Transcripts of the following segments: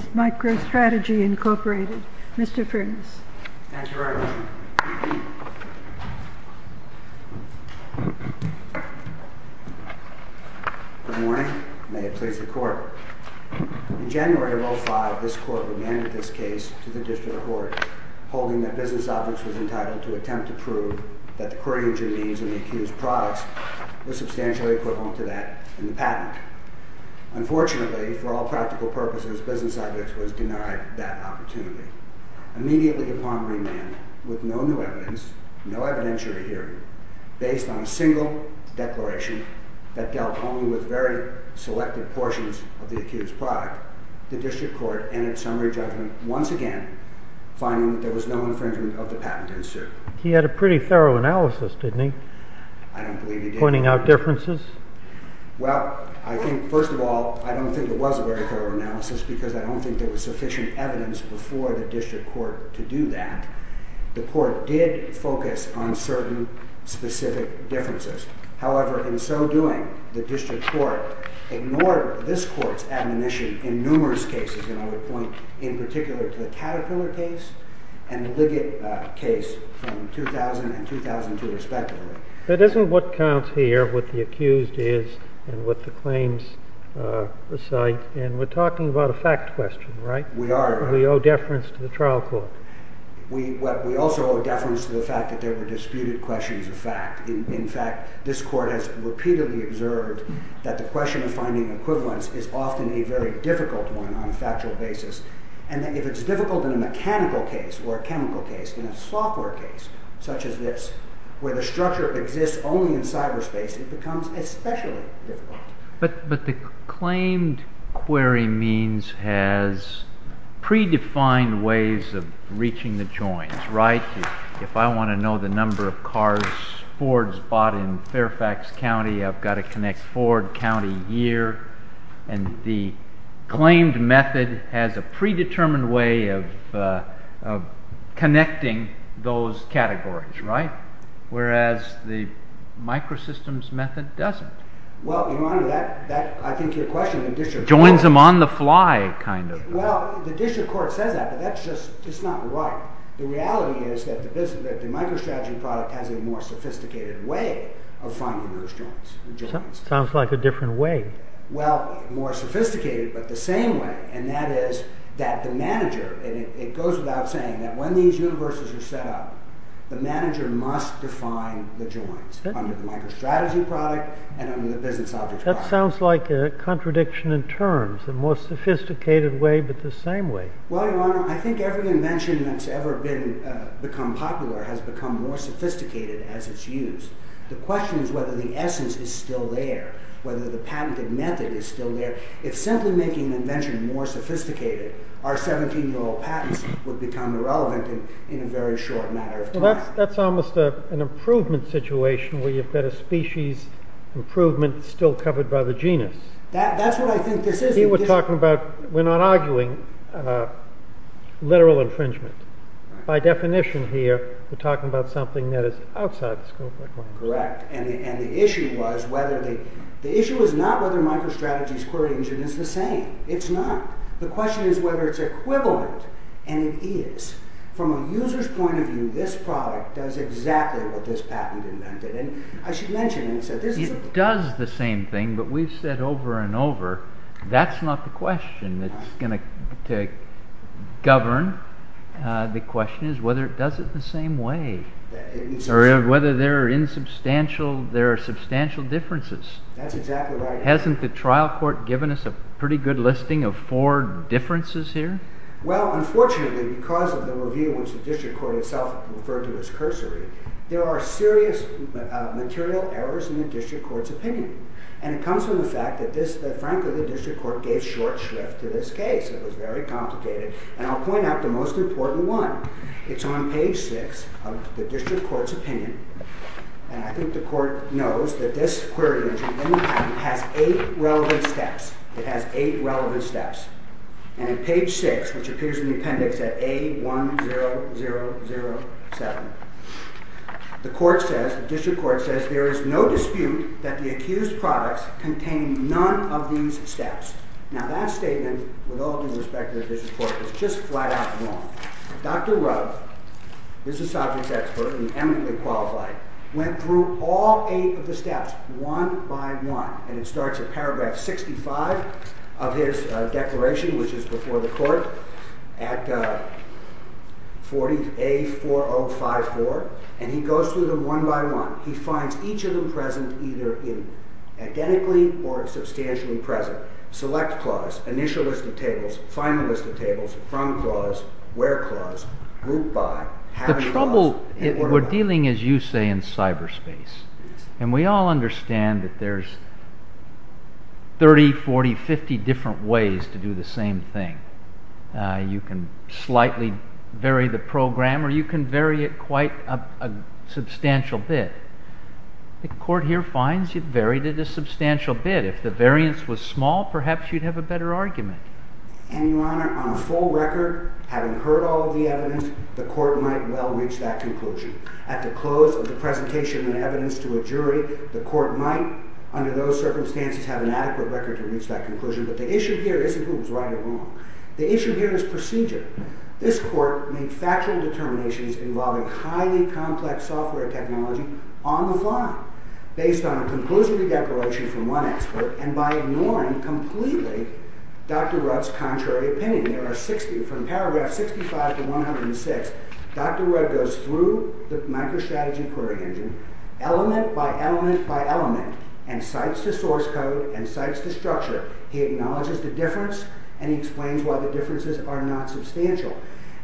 v. Microstrategy, Inc. Mr. Prudence. Thank you very much. Good morning. May it please the Court. In January of 2005, this Court remanded this case to the District Court, holding that Business Objects was entitled to attempt to prove that the query engine means in the accused products was substantially equivalent to that in the patent. Unfortunately, for all practical purposes, Business Objects was denied that opportunity. Immediately upon remand, with no new evidence, no evidentiary hearing, based on a single declaration that dealt only with very selective portions of the accused product, the District Court entered summary judgment once again, finding that there was no infringement of the patent in suit. He had a pretty thorough analysis, didn't he? I don't believe he did. Pointing out differences? Well, first of all, I don't think it was a very thorough analysis because I don't think there was sufficient evidence before the District Court to do that. The Court did focus on certain specific differences. However, in so doing, the District Court ignored this Court's admonition in numerous cases, and I would point in particular to the Caterpillar case and the Liggett case from 2000 and 2002 respectively. That isn't what counts here, what the accused is and what the claims recite, and we're talking about a fact question, right? We are. We owe deference to the trial court. We also owe deference to the fact that there were disputed questions of fact. In fact, this Court has repeatedly observed that the question of finding equivalence is often a very difficult one on a factual basis, and that if it's difficult in a mechanical case or a chemical case, in a software case such as this, where the structure exists only in cyberspace, it becomes especially difficult. But the claimed query means has predefined ways of reaching the joins, right? If I want to know the number of cars Ford has bought in Fairfax County, I've got to connect Ford County year, and the claimed method has a predetermined way of connecting those categories, right? Whereas the microsystems method doesn't. Well, Your Honor, I think your question… Joins them on the fly, kind of. Well, the district court says that, but that's just not right. The reality is that the microstrategy product has a more sophisticated way of finding those joins. Sounds like a different way. Well, more sophisticated, but the same way. And that is that the manager, and it goes without saying, that when these universes are set up, the manager must define the joins under the microstrategy product and under the business object product. That sounds like a contradiction in terms, a more sophisticated way, but the same way. Well, Your Honor, I think every invention that's ever become popular has become more sophisticated as it's used. The question is whether the essence is still there, whether the patented method is still there. If simply making an invention more sophisticated, our 17-year-old patents would become irrelevant in a very short matter of time. Well, that's almost an improvement situation where you've got a species improvement still covered by the genus. That's what I think this is. Here we're talking about, we're not arguing literal infringement. By definition here, we're talking about something that is outside the scope. Correct, and the issue is not whether microstrategy's query engine is the same. It's not. The question is whether it's equivalent, and it is. From a user's point of view, this product does exactly what this patent invented. And I should mention, it does the same thing, but we've said over and over, that's not the question that's going to govern. The question is whether it does it the same way. Or whether there are substantial differences. That's exactly right. Hasn't the trial court given us a pretty good listing of four differences here? Well, unfortunately, because of the review, which the district court itself referred to as cursory, there are serious material errors in the district court's opinion. And it comes from the fact that, frankly, the district court gave short shrift to this case. It was very complicated. And I'll point out the most important one. It's on page six of the district court's opinion. And I think the court knows that this query engine has eight relevant steps. It has eight relevant steps. And on page six, which appears in the appendix at A10007, the court says, the district court says, there is no dispute that the accused products contain none of these steps. Now that statement, with all due respect to the district court, is just flat out wrong. Dr. Rove, who is a sovereigns expert and eminently qualified, went through all eight of the steps one by one. And it starts at paragraph 65 of his declaration, which is before the court, at 40A4054. And he goes through them one by one. He finds each of them present either identically or substantially present. Select clause, initial list of tables, final list of tables, front clause, where clause, group by, having clause. The trouble, we're dealing, as you say, in cyberspace. And we all understand that there's 30, 40, 50 different ways to do the same thing. You can slightly vary the program or you can vary it quite a substantial bit. The court here finds you've varied it a substantial bit. If the variance was small, perhaps you'd have a better argument. And, Your Honor, on a full record, having heard all of the evidence, the court might well reach that conclusion. At the close of the presentation of evidence to a jury, the court might, under those circumstances, have an adequate record to reach that conclusion. But the issue here isn't who was right or wrong. The issue here is procedure. This court made factual determinations involving highly complex software technology on the fly, based on a conclusion to declaration from one expert, and by ignoring completely Dr. Rudd's contrary opinion. There are 60, from paragraph 65 to 106, Dr. Rudd goes through the microstrategy query engine, element by element by element, and cites the source code and cites the structure. He acknowledges the difference, and he explains why the differences are not substantial.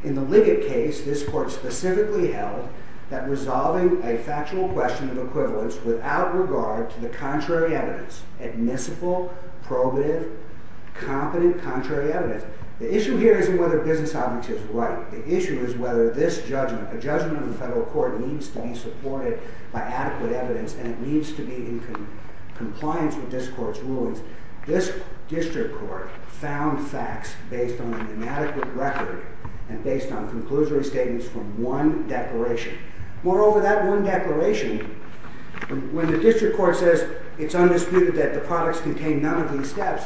In the Liggett case, this court specifically held that resolving a factual question of equivalence without regard to the contrary evidence, admissible, probative, competent contrary evidence, the issue here isn't whether business object is right. The issue is whether this judgment, a judgment of the federal court, needs to be supported by adequate evidence, and it needs to be in compliance with this court's rulings. This district court found facts based on an inadequate record and based on conclusory statements from one declaration. Moreover, that one declaration, when the district court says it's undisputed that the products contain none of these steps,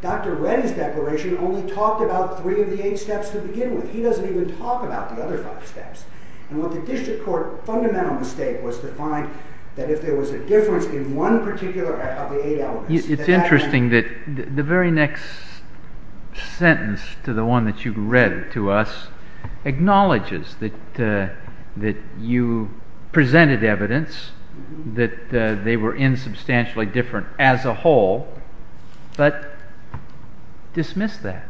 Dr. Rudd's declaration only talked about three of the eight steps to begin with. He doesn't even talk about the other five steps. And what the district court's fundamental mistake was to find that if there was a difference in one particular of the eight elements... It's interesting that the very next sentence to the one that you read to us acknowledges that you presented evidence that they were insubstantially different as a whole, but dismissed that.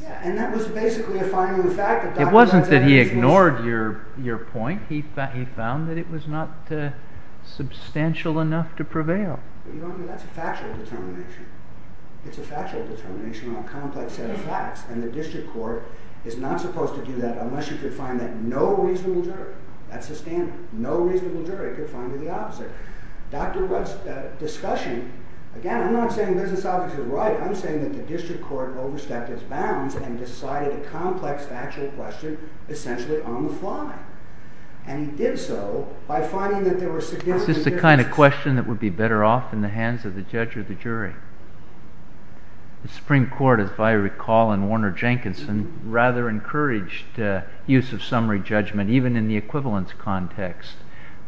Yeah, and that was basically a fine-rune fact... It wasn't that he ignored your point. He found that it was not substantial enough to prevail. But you don't know that's a factual determination. It's a factual determination on a complex set of facts, and the district court is not supposed to do that unless you could find that no reasonable jury... That's the standard. No reasonable jury could find the opposite. Dr. Rudd's discussion... Again, I'm not saying business officers were right. I'm saying that the district court overstepped its bounds and decided a complex factual question essentially on the fly. And he did so by finding that there were significant differences... Is this the kind of question that would be better off in the hands of the judge or the jury? The Supreme Court, if I recall, in Warner-Jenkinson, rather encouraged use of summary judgment even in the equivalence context,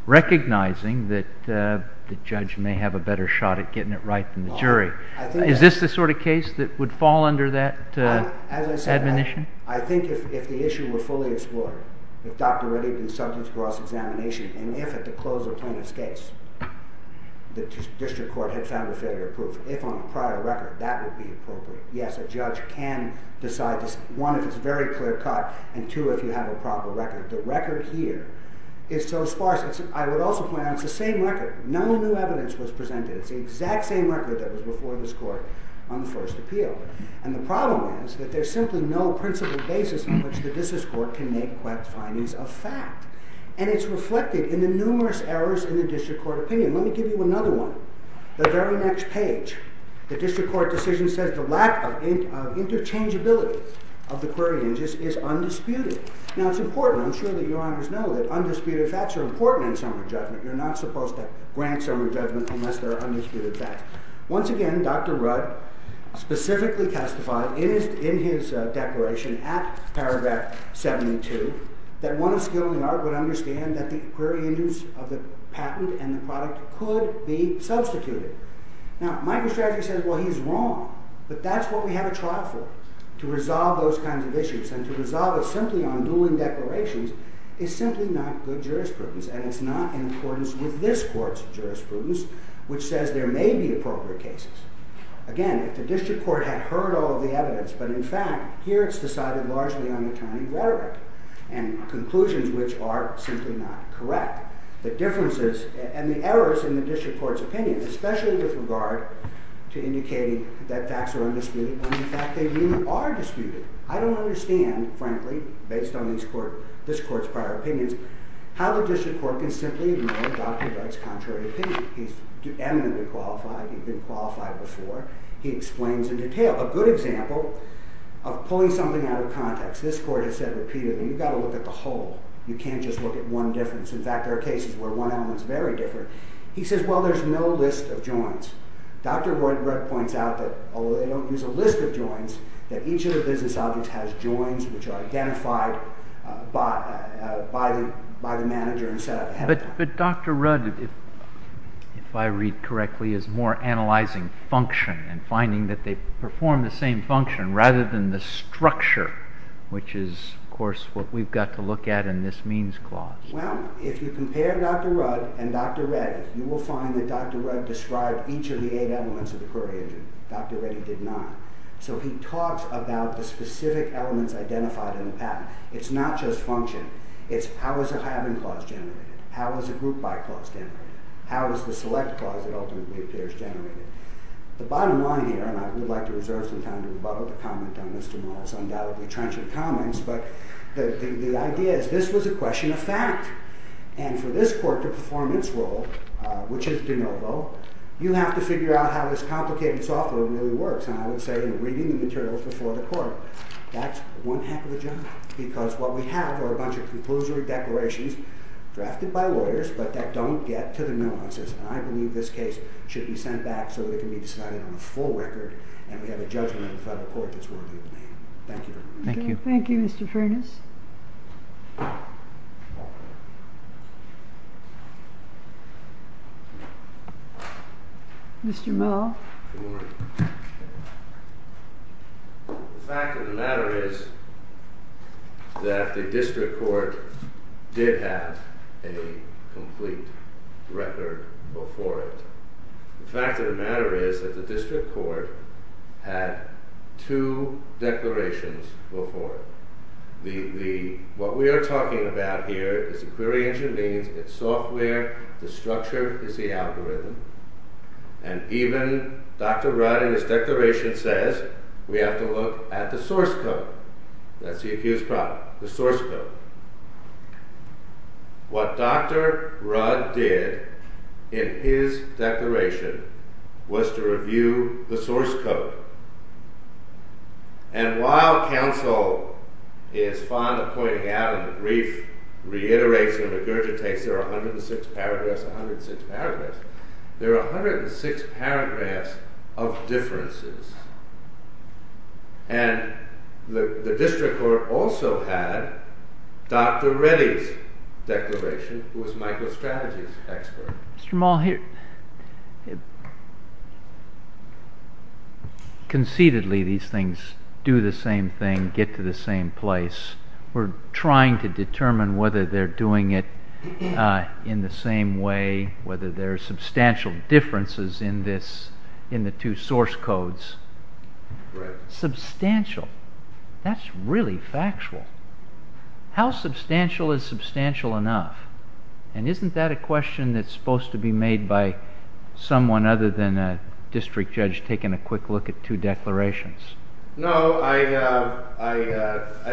recognizing that the judge may have a better shot at getting it right than the jury. Is this the sort of case that would fall under that admonition? As I said, I think if the issue were fully explored, if Dr. Rudd had been subject to cross-examination, and if at the close of Plaintiff's case the district court had found a failure of proof, if on a prior record, that would be appropriate. Yes, a judge can decide this, one, if it's a very clear cut, and two, if you have a proper record. The record here is so sparse. I would also point out it's the same record. No new evidence was presented. It's the exact same record that was before this court on the first appeal. And the problem is that there's simply no principle basis on which the district court can make quick findings of fact. And it's reflected in the numerous errors in the district court opinion. Let me give you another one. The very next page, the district court decision says the lack of interchangeability of the query hinges is undisputed. Now, it's important. I'm sure that your honors know that undisputed facts are important in summary judgment. You're not supposed to grant summary judgment unless there are undisputed facts. Once again, Dr. Rudd specifically testified in his declaration at paragraph 72 that one of skill and the art would understand that the query hinges of the patent and the product could be substituted. Now, Microstrategy says, well, he's wrong. But that's what we have a trial for, to resolve those kinds of issues. And to resolve it simply on Newland declarations is simply not good jurisprudence. And it's not in accordance with this court's jurisprudence, which says there may be appropriate cases. Again, if the district court had heard all the evidence, but in fact, here it's decided largely on attorney rhetoric. And conclusions which are simply not correct. The differences and the errors in the district court's opinion, especially with regard to indicating that facts are undisputed, when in fact they really are disputed. I don't understand, frankly, based on this court's prior opinions, how the district court can simply ignore Dr. Rudd's contrary opinion. He's eminently qualified. He'd been qualified before. He explains in detail. A good example of pulling something out of context. This court has said repeatedly, you've got to look at the whole. You can't just look at one difference. In fact, there are cases where one element's very different. He says, well, there's no list of joins. Dr. Rudd points out that, although they don't use a list of joins, that each of the business objects has joins which are identified by the manager. But Dr. Rudd, if I read correctly, is more analyzing function and finding that they perform the same function rather than the structure, which is, of course, what we've got to look at in this means clause. Well, if you compare Dr. Rudd and Dr. Reddy, you will find that Dr. Rudd described each of the eight elements of the query engine. Dr. Reddy did not. So he talks about the specific elements identified in the patent. It's not just function. It's how is a having clause generated? How is a group by clause generated? How is the select clause that ultimately appears generated? The bottom line here, and I would like to reserve some time to rebuttal the comment on this tomorrow's undoubtedly trenchant comments, but the idea is this was a question of fact. And for this court to perform its role, which is de novo, you have to figure out how this complicated software really works. And I would say, reading the materials before the court, that's one heck of a job. Because what we have are a bunch of conclusory declarations drafted by lawyers, but that don't get to the nuances. And I believe this case should be sent back so that it can be decided on a full record, and we have a judgment in front of the court that's worthy of the name. Thank you. Thank you, Mr. Furness. Mr. Moe. The fact of the matter is that the district court did have a complete record before it. The fact of the matter is that the district court had two declarations before it. What we are talking about here is the query engine means, it's software, the structure is the algorithm, and even Dr. Rudd in his declaration says we have to look at the source code. That's the accused problem, the source code. What Dr. Rudd did in his declaration was to review the source code. And while counsel is fond of pointing out in the brief reiterates and regurgitates there are 106 paragraphs, 106 paragraphs, there are 106 paragraphs of differences. And the district court also had Dr. Reddy's declaration who was Michael's strategy expert. Conceitedly these things do the same thing, get to the same place. We're trying to determine whether they're doing it in the same way, whether there are substantial differences in the two source codes. Substantial, that's really factual. How substantial is substantial enough? And isn't that a question that's supposed to be made by someone other than a district judge taking a quick look at two declarations? No, I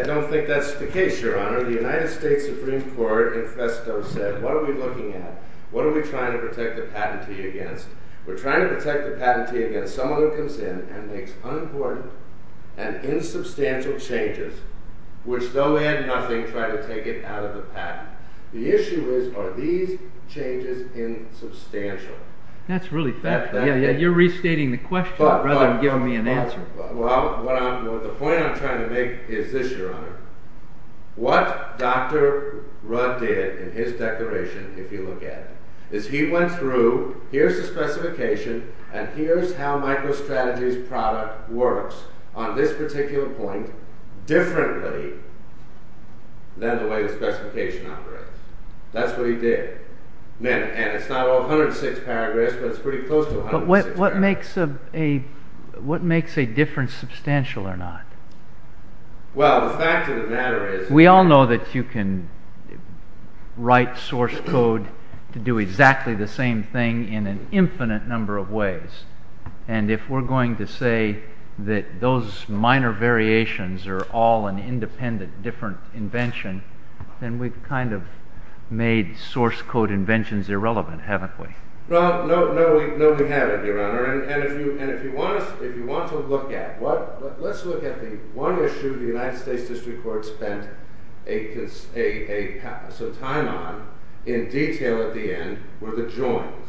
don't think that's the case, Your Honor. The United States Supreme Court infesto said what are we looking at? What are we trying to protect the patentee against? We're trying to protect the patentee against someone who comes in and makes unimportant and insubstantial changes which though they're nothing try to take it out of the patent. The issue is, are these changes insubstantial? That's really factual. You're restating the question rather than giving me an answer. The point I'm trying to make is this, Your Honor. What Dr. Rudd did in his declaration, if you look at it, is he went through, here's the specification, and here's how MicroStrategy's product works on this particular point. Differently than the way the specification operates. That's what he did. And it's not 106 paragraphs, but it's pretty close to 106 paragraphs. But what makes a difference substantial or not? Well, the fact of the matter is... We all know that you can write source code to do exactly the same thing in an infinite number of ways. And if we're going to say that those minor variations are all an independent, different invention, then we've kind of made source code inventions irrelevant, haven't we? No, we haven't, Your Honor. And if you want to look at... Let's look at the one issue the United States District Court spent a time on, in detail at the end, were the joins.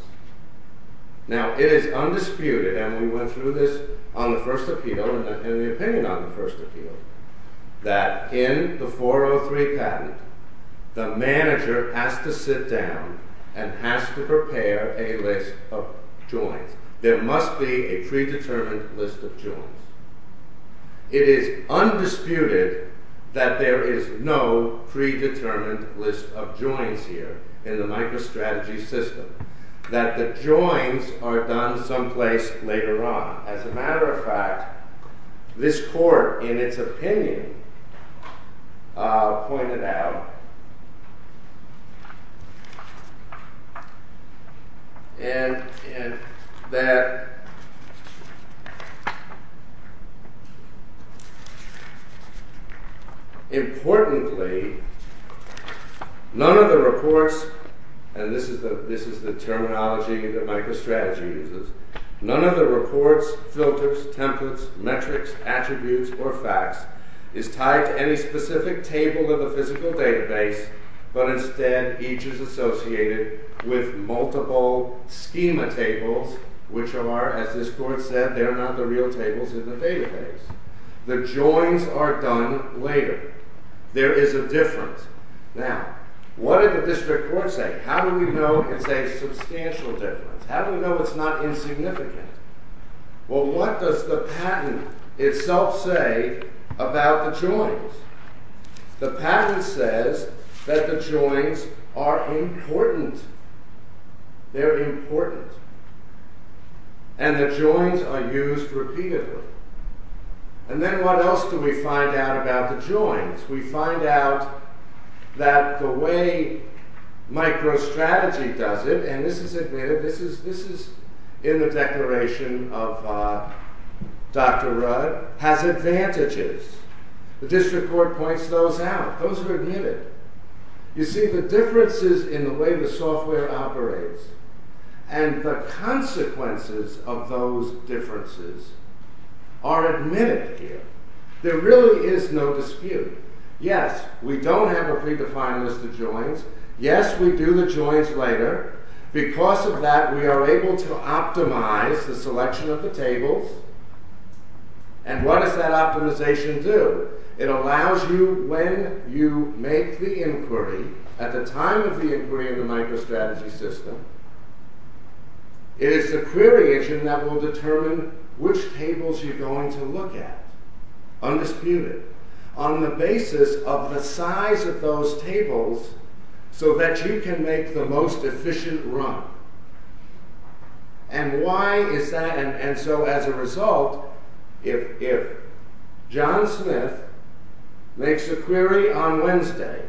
Now, it is undisputed, and we went through this on the first appeal, and the opinion on the first appeal, that in the 403 patent, the manager has to sit down and has to prepare a list of joins. There must be a predetermined list of joins. It is undisputed that there is no predetermined list of joins here in the MicroStrategy system. That the joins are done someplace later on, as a matter of fact, this Court, in its opinion, pointed out, and that importantly, none of the reports, and this is the terminology that MicroStrategy uses, none of the reports, filters, templates, metrics, attributes, or facts, is tied to any specific table of a physical database, but instead, each is associated with multiple schema tables, which are, as this Court said, they are not the real tables in the database. The joins are done later. There is a difference. Now, what did the District Court say? How do we know it's a substantial difference? How do we know it's not insignificant? Well, what does the patent itself say about the joins? The patent says that the joins are important. They're important. And the joins are used repeatedly. And then what else do we find out about the joins? We find out that the way MicroStrategy does it, and this is admitted, this is in the declaration of Dr. Rudd, has advantages. The District Court points those out. Those are admitted. You see, the differences in the way the software operates and the consequences of those differences are admitted here. There really is no dispute. Yes, we don't have a predefined list of joins. Yes, we do the joins later. Because of that, we are able to optimize the selection of the tables. And what does that optimization do? It allows you when you make the inquiry, at the time of the inquiry in the MicroStrategy system, it is the query engine that will determine which tables you're going to look at undisputed on the basis of the size of those tables so that you can make the most efficient run. And why is that? And so as a result, if John Smith makes a query on Wednesday,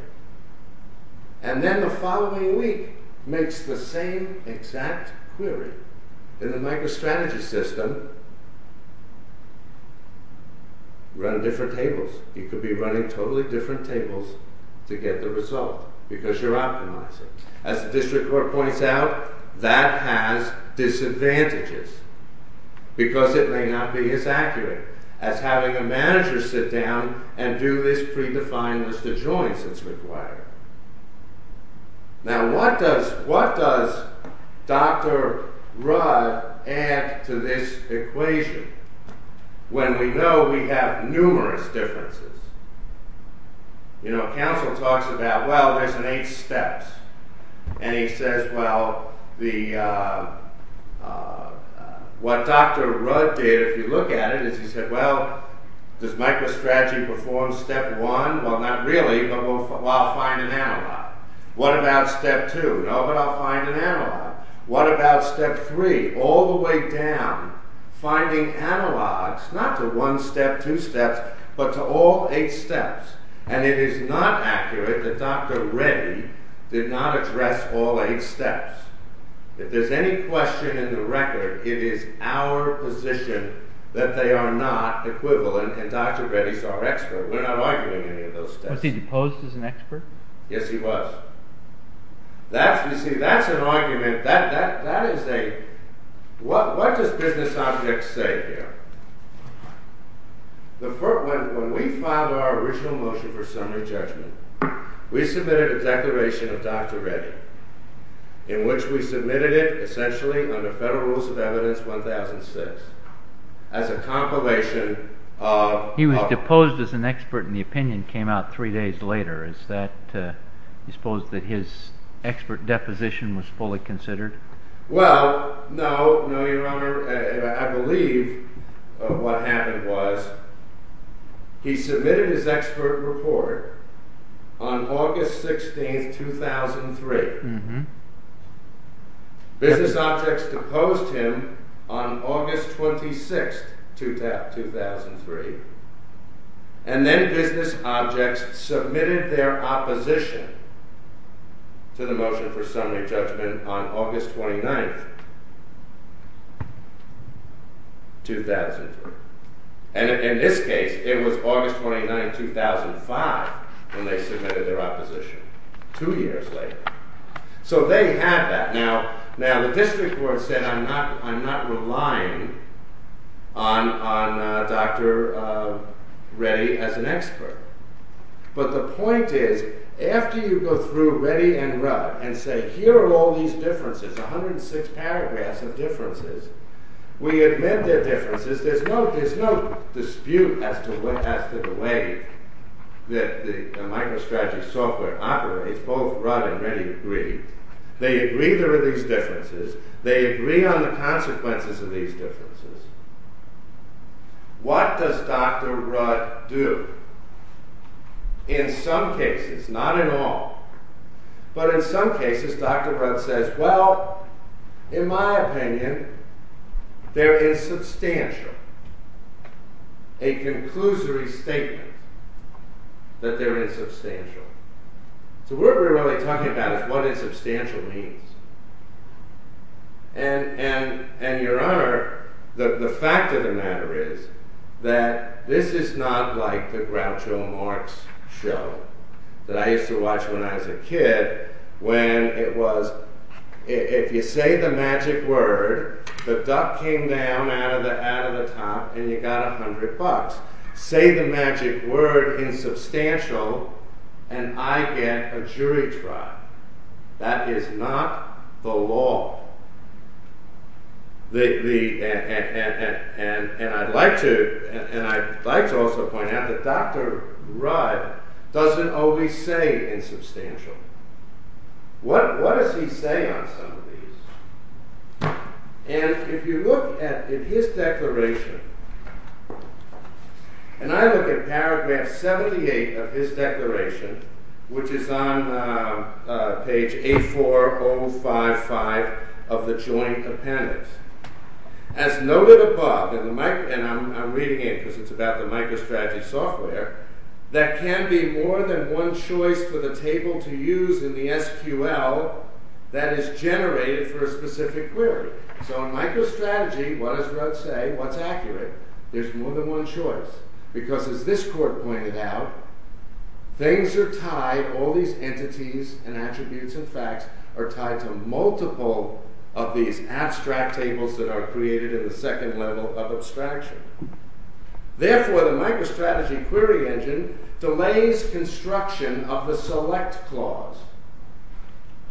and then the following week makes the same exact query in the MicroStrategy system, run different tables. You could be running totally different tables to get the result. Because you're optimizing. As the district court points out, that has disadvantages. Because it may not be as accurate as having a manager sit down and do this predefined list of joins that's required. Now what does Dr. Rudd add to this equation when we know we have numerous differences? You know, counsel talks about, well, there's an eight steps. And he says, well, what Dr. Rudd did, if you look at it, is he said, well, does MicroStrategy perform step one? Well, not really, but I'll find an analog. What about step two? No, but I'll find an analog. What about step three? All the way down, finding analogs, not to one step, two steps, but to all eight steps. And it is not accurate that Dr. Reddy did not address all eight steps. If there's any question in the record, it is our position that they are not equivalent, and Dr. Reddy's our expert. We're not arguing any of those steps. Was he deposed as an expert? Yes, he was. You see, that's an argument. That is a... What does business object say here? When we filed our original motion for summary judgment, we submitted a declaration of Dr. Reddy, in which we submitted it, essentially, under Federal Rules of Evidence 1006, as a compilation of... He was deposed as an expert, and the opinion came out three days later. Is that... Do you suppose that his expert deposition was fully considered? Well, no. No, Your Honor. I believe what happened was he submitted his expert report on August 16th, 2003. Business objects deposed him on August 26th, 2003. And then business objects submitted their opposition to the motion for summary judgment on August 29th, 2003. And in this case, it was August 29th, 2005, when they submitted their opposition, two years later. So they had that. Now, the district court said, I'm not relying on Dr. Reddy as an expert. But the point is, after you go through Reddy and Rudd, and say, here are all these differences, 106 paragraphs of differences. We admit their differences. There's no dispute as to the way that the MicroStrategy software operates. Both Rudd and Reddy agree. They agree there are these differences. They agree on the consequences of these differences. What does Dr. Rudd do? In some cases, not in all, but in some cases, Dr. Rudd says, well, in my opinion, they're insubstantial. A conclusory statement that they're insubstantial. So what we're really talking about is what insubstantial means. And Your Honor, the fact of the matter is that this is not like the Groucho Marx show that I used to watch when I was a kid, when it was, if you say the magic word, the duck came down out of the top, and you got 100 bucks. Say the magic word insubstantial, and I get a jury trial. That is not the law. And I'd like to also point out that Dr. Rudd doesn't always say insubstantial. What does he say on some of these? And if you look at his declaration, and I look at paragraph 78 of his declaration, which is on page A4055 of the joint appendix. As noted above, and I'm reading it because it's about the MicroStrategy software, that can be more than one choice for the table to use in the SQL that is generated for a specific query. So in MicroStrategy, what does Rudd say? What's accurate? There's more than one choice. Because as this court pointed out, things are tied, all these entities and attributes and facts are tied to multiple of these abstract tables that are created in the second level of abstraction. Therefore, the MicroStrategy query engine delays construction of the select clause.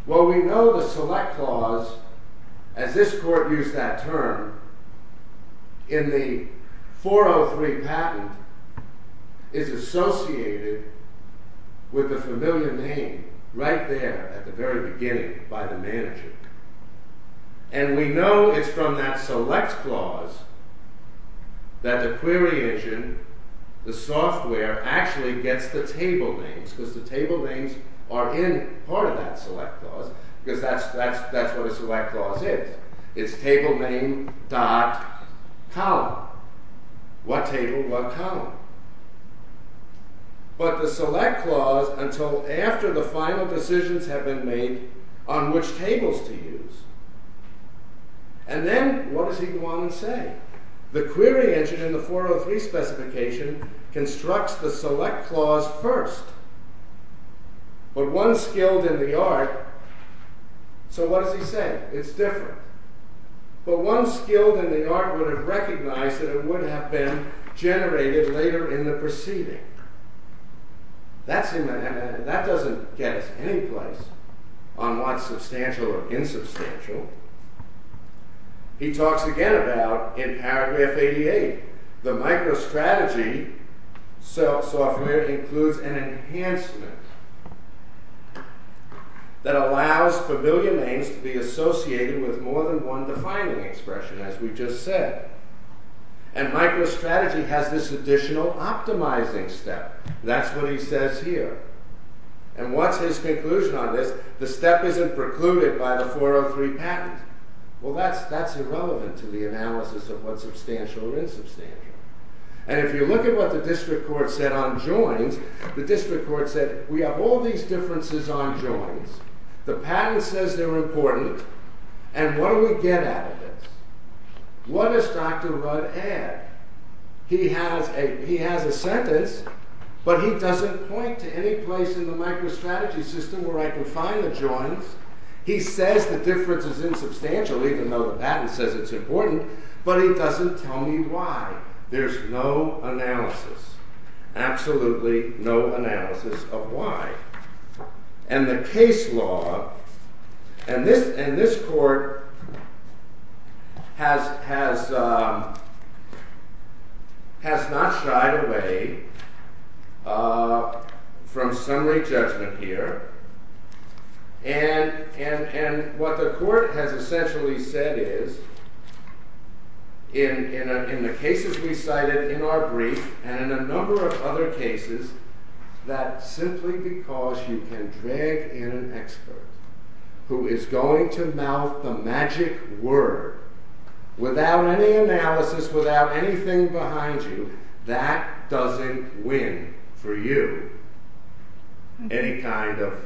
Well, we know the select clause, as this court used that term, in the 403 patent is associated with a familiar name, right there, at the very beginning, by the manager. And we know it's from that select clause that the query engine, the software, actually gets the table names because the table names are in part of that select clause It's table name dot column. What table? What column? But the select clause, until after the final decisions have been made, on which tables to use. And then, what does he want to say? The query engine in the 403 specification constructs the select clause first. But one skilled in the art... So what does he say? It's different. But one skilled in the art would have recognized that it would have been generated later in the proceeding. That doesn't get us any place on what's substantial or insubstantial. He talks again about, in paragraph 88, the microstrategy software includes an enhancement that allows familiar names to be associated with more than one defining expression, as we just said. And microstrategy has this additional optimizing step. That's what he says here. And what's his conclusion on this? The step isn't precluded by the 403 patent. Well, that's irrelevant to the analysis of what's substantial or insubstantial. And if you look at what the district court said on joins, the district court said, we have all these differences on joins, the patent says they're important, and what do we get out of this? What does Dr. Rudd add? He has a sentence, but he doesn't point to any place in the microstrategy system where I can find the joins. He says the difference is insubstantial, even though the patent says it's important, but he doesn't tell me why. There's no analysis. Absolutely no analysis of why. And the case law, and this court has not shied away from summary judgment here. And what the court has essentially said is, in the cases we cited in our brief, and in a number of other cases, that simply because you can drag in an expert who is going to mouth the magic word without any analysis, without anything behind you, that doesn't win for you any kind of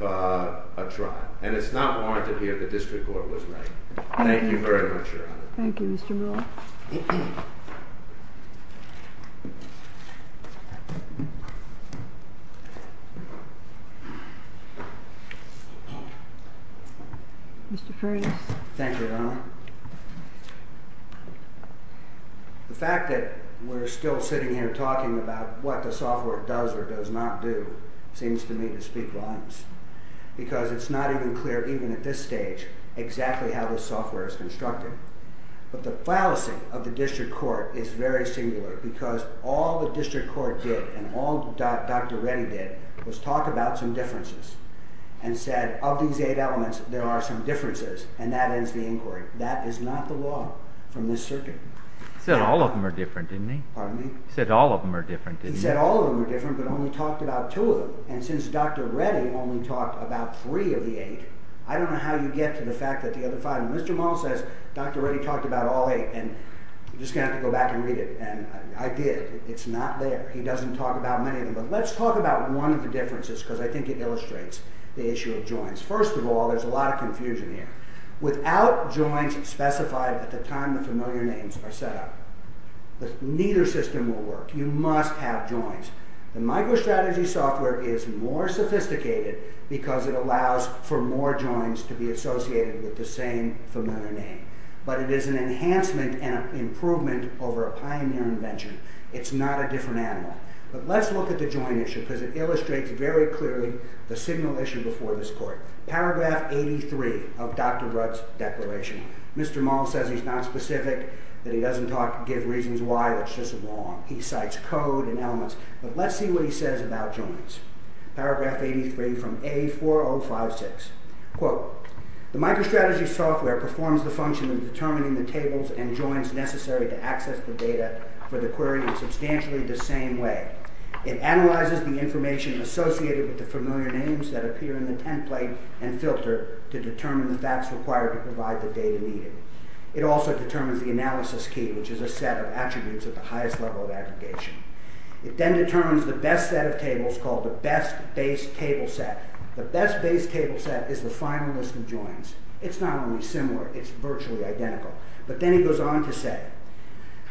trial. And it's not warranted here. The district court was right. Thank you very much, Your Honor. Thank you, Mr. Brewer. Mr. Furness. Thank you, Your Honor. The fact that we're still sitting here talking about what the software does or does not do, seems to me to speak volumes. Because it's not even clear, even at this stage, exactly how this software is constructed. But the fallacy of the district court is very singular because all the district court did and all Dr. Reddy did was talk about some differences and said, of these eight elements, there are some differences. And that ends the inquiry. That is not the law from this circuit. He said all of them are different, didn't he? He said all of them are different, didn't he? He said all of them are different, but only talked about two of them. And since Dr. Reddy only talked about three of the eight, I don't know how you get to the fact that the other five... And Mr. Mall says, Dr. Reddy talked about all eight, and you're just going to have to go back and read it. And I did. It's not there. He doesn't talk about many of them. But let's talk about one of the differences, because I think it illustrates the issue of joins. First of all, there's a lot of confusion here. Without joins specified at the time the familiar names are set up, neither system will work. You must have joins. The MicroStrategy software is more sophisticated because it allows for more joins to be associated with the same familiar name. But it is an enhancement and improvement over a pioneer invention. It's not a different animal. But let's look at the join issue, because it illustrates very clearly the signal issue before this court. Paragraph 83 of Dr. Rudd's declaration. Mr. Mall says he's not specific, that he doesn't give reasons why, it's just wrong. He cites code and elements. But let's see what he says about joins. Paragraph 83 from A4056. Quote. The MicroStrategy software performs the function of determining the tables and joins necessary to access the data for the query in substantially the same way. It analyzes the information associated with the familiar names that appear in the template and filter to determine the facts required to provide the data needed. It also determines the analysis key, which is a set of attributes at the highest level of aggregation. It then determines the best set of tables called the best base table set. The best base table set is the final list of joins. It's not only similar, it's virtually identical. But then he goes on to say,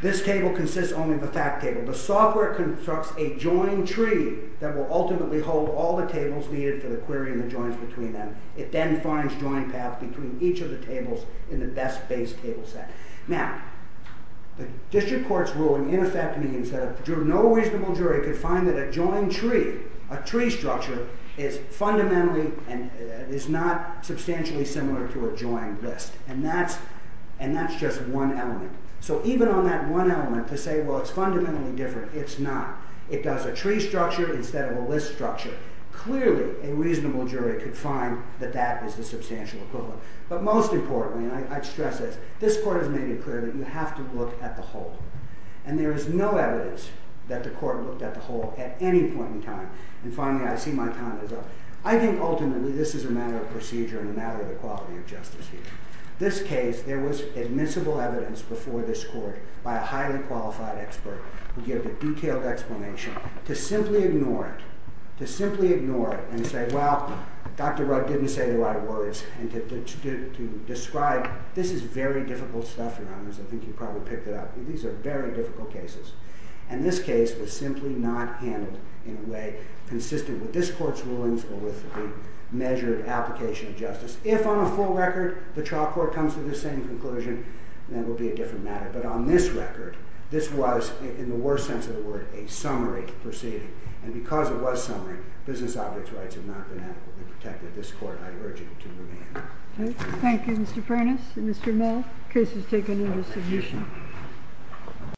this table consists only of the fact table. The software constructs a join tree that will ultimately hold all the tables needed for the query and the joins between them. It then finds join paths between each of the tables in the best base table set. Now, the district court's ruling in effect means that if no reasonable jury could find that a join tree, a tree structure, is fundamentally and is not substantially similar to a join list. And that's just one element. So even on that one element to say, well, it's fundamentally different. It's not. It does a tree structure instead of a list structure. Clearly, a reasonable jury could find that that is the substantial equivalent. But most importantly, and I stress this, this court has made it clear that you have to look at the whole. And there is no evidence that the court looked at the whole at any point in time. And finally, I see my time is up. I think ultimately this is a matter of procedure and a matter of the quality of justice here. This case, there was admissible evidence before this court by a highly qualified expert who gave a detailed explanation to simply ignore it. To simply ignore it and say, well, Dr. Rugg didn't say the right words. And to describe, this is very difficult stuff, Your Honors. I think you probably picked it up. These are very difficult cases. And this case was simply not handled in a way consistent with this court's rulings or with the measured application of justice. If on a full record, the trial court comes to the same conclusion, then it will be a different matter. But on this record, this was, in the worst sense of the word, a summary proceeding. And because it was summary, business objects rights have not been adequately protected. This court, I urge you to remain. Thank you, Mr. Furness and Mr. Mill. Case is taken into submission.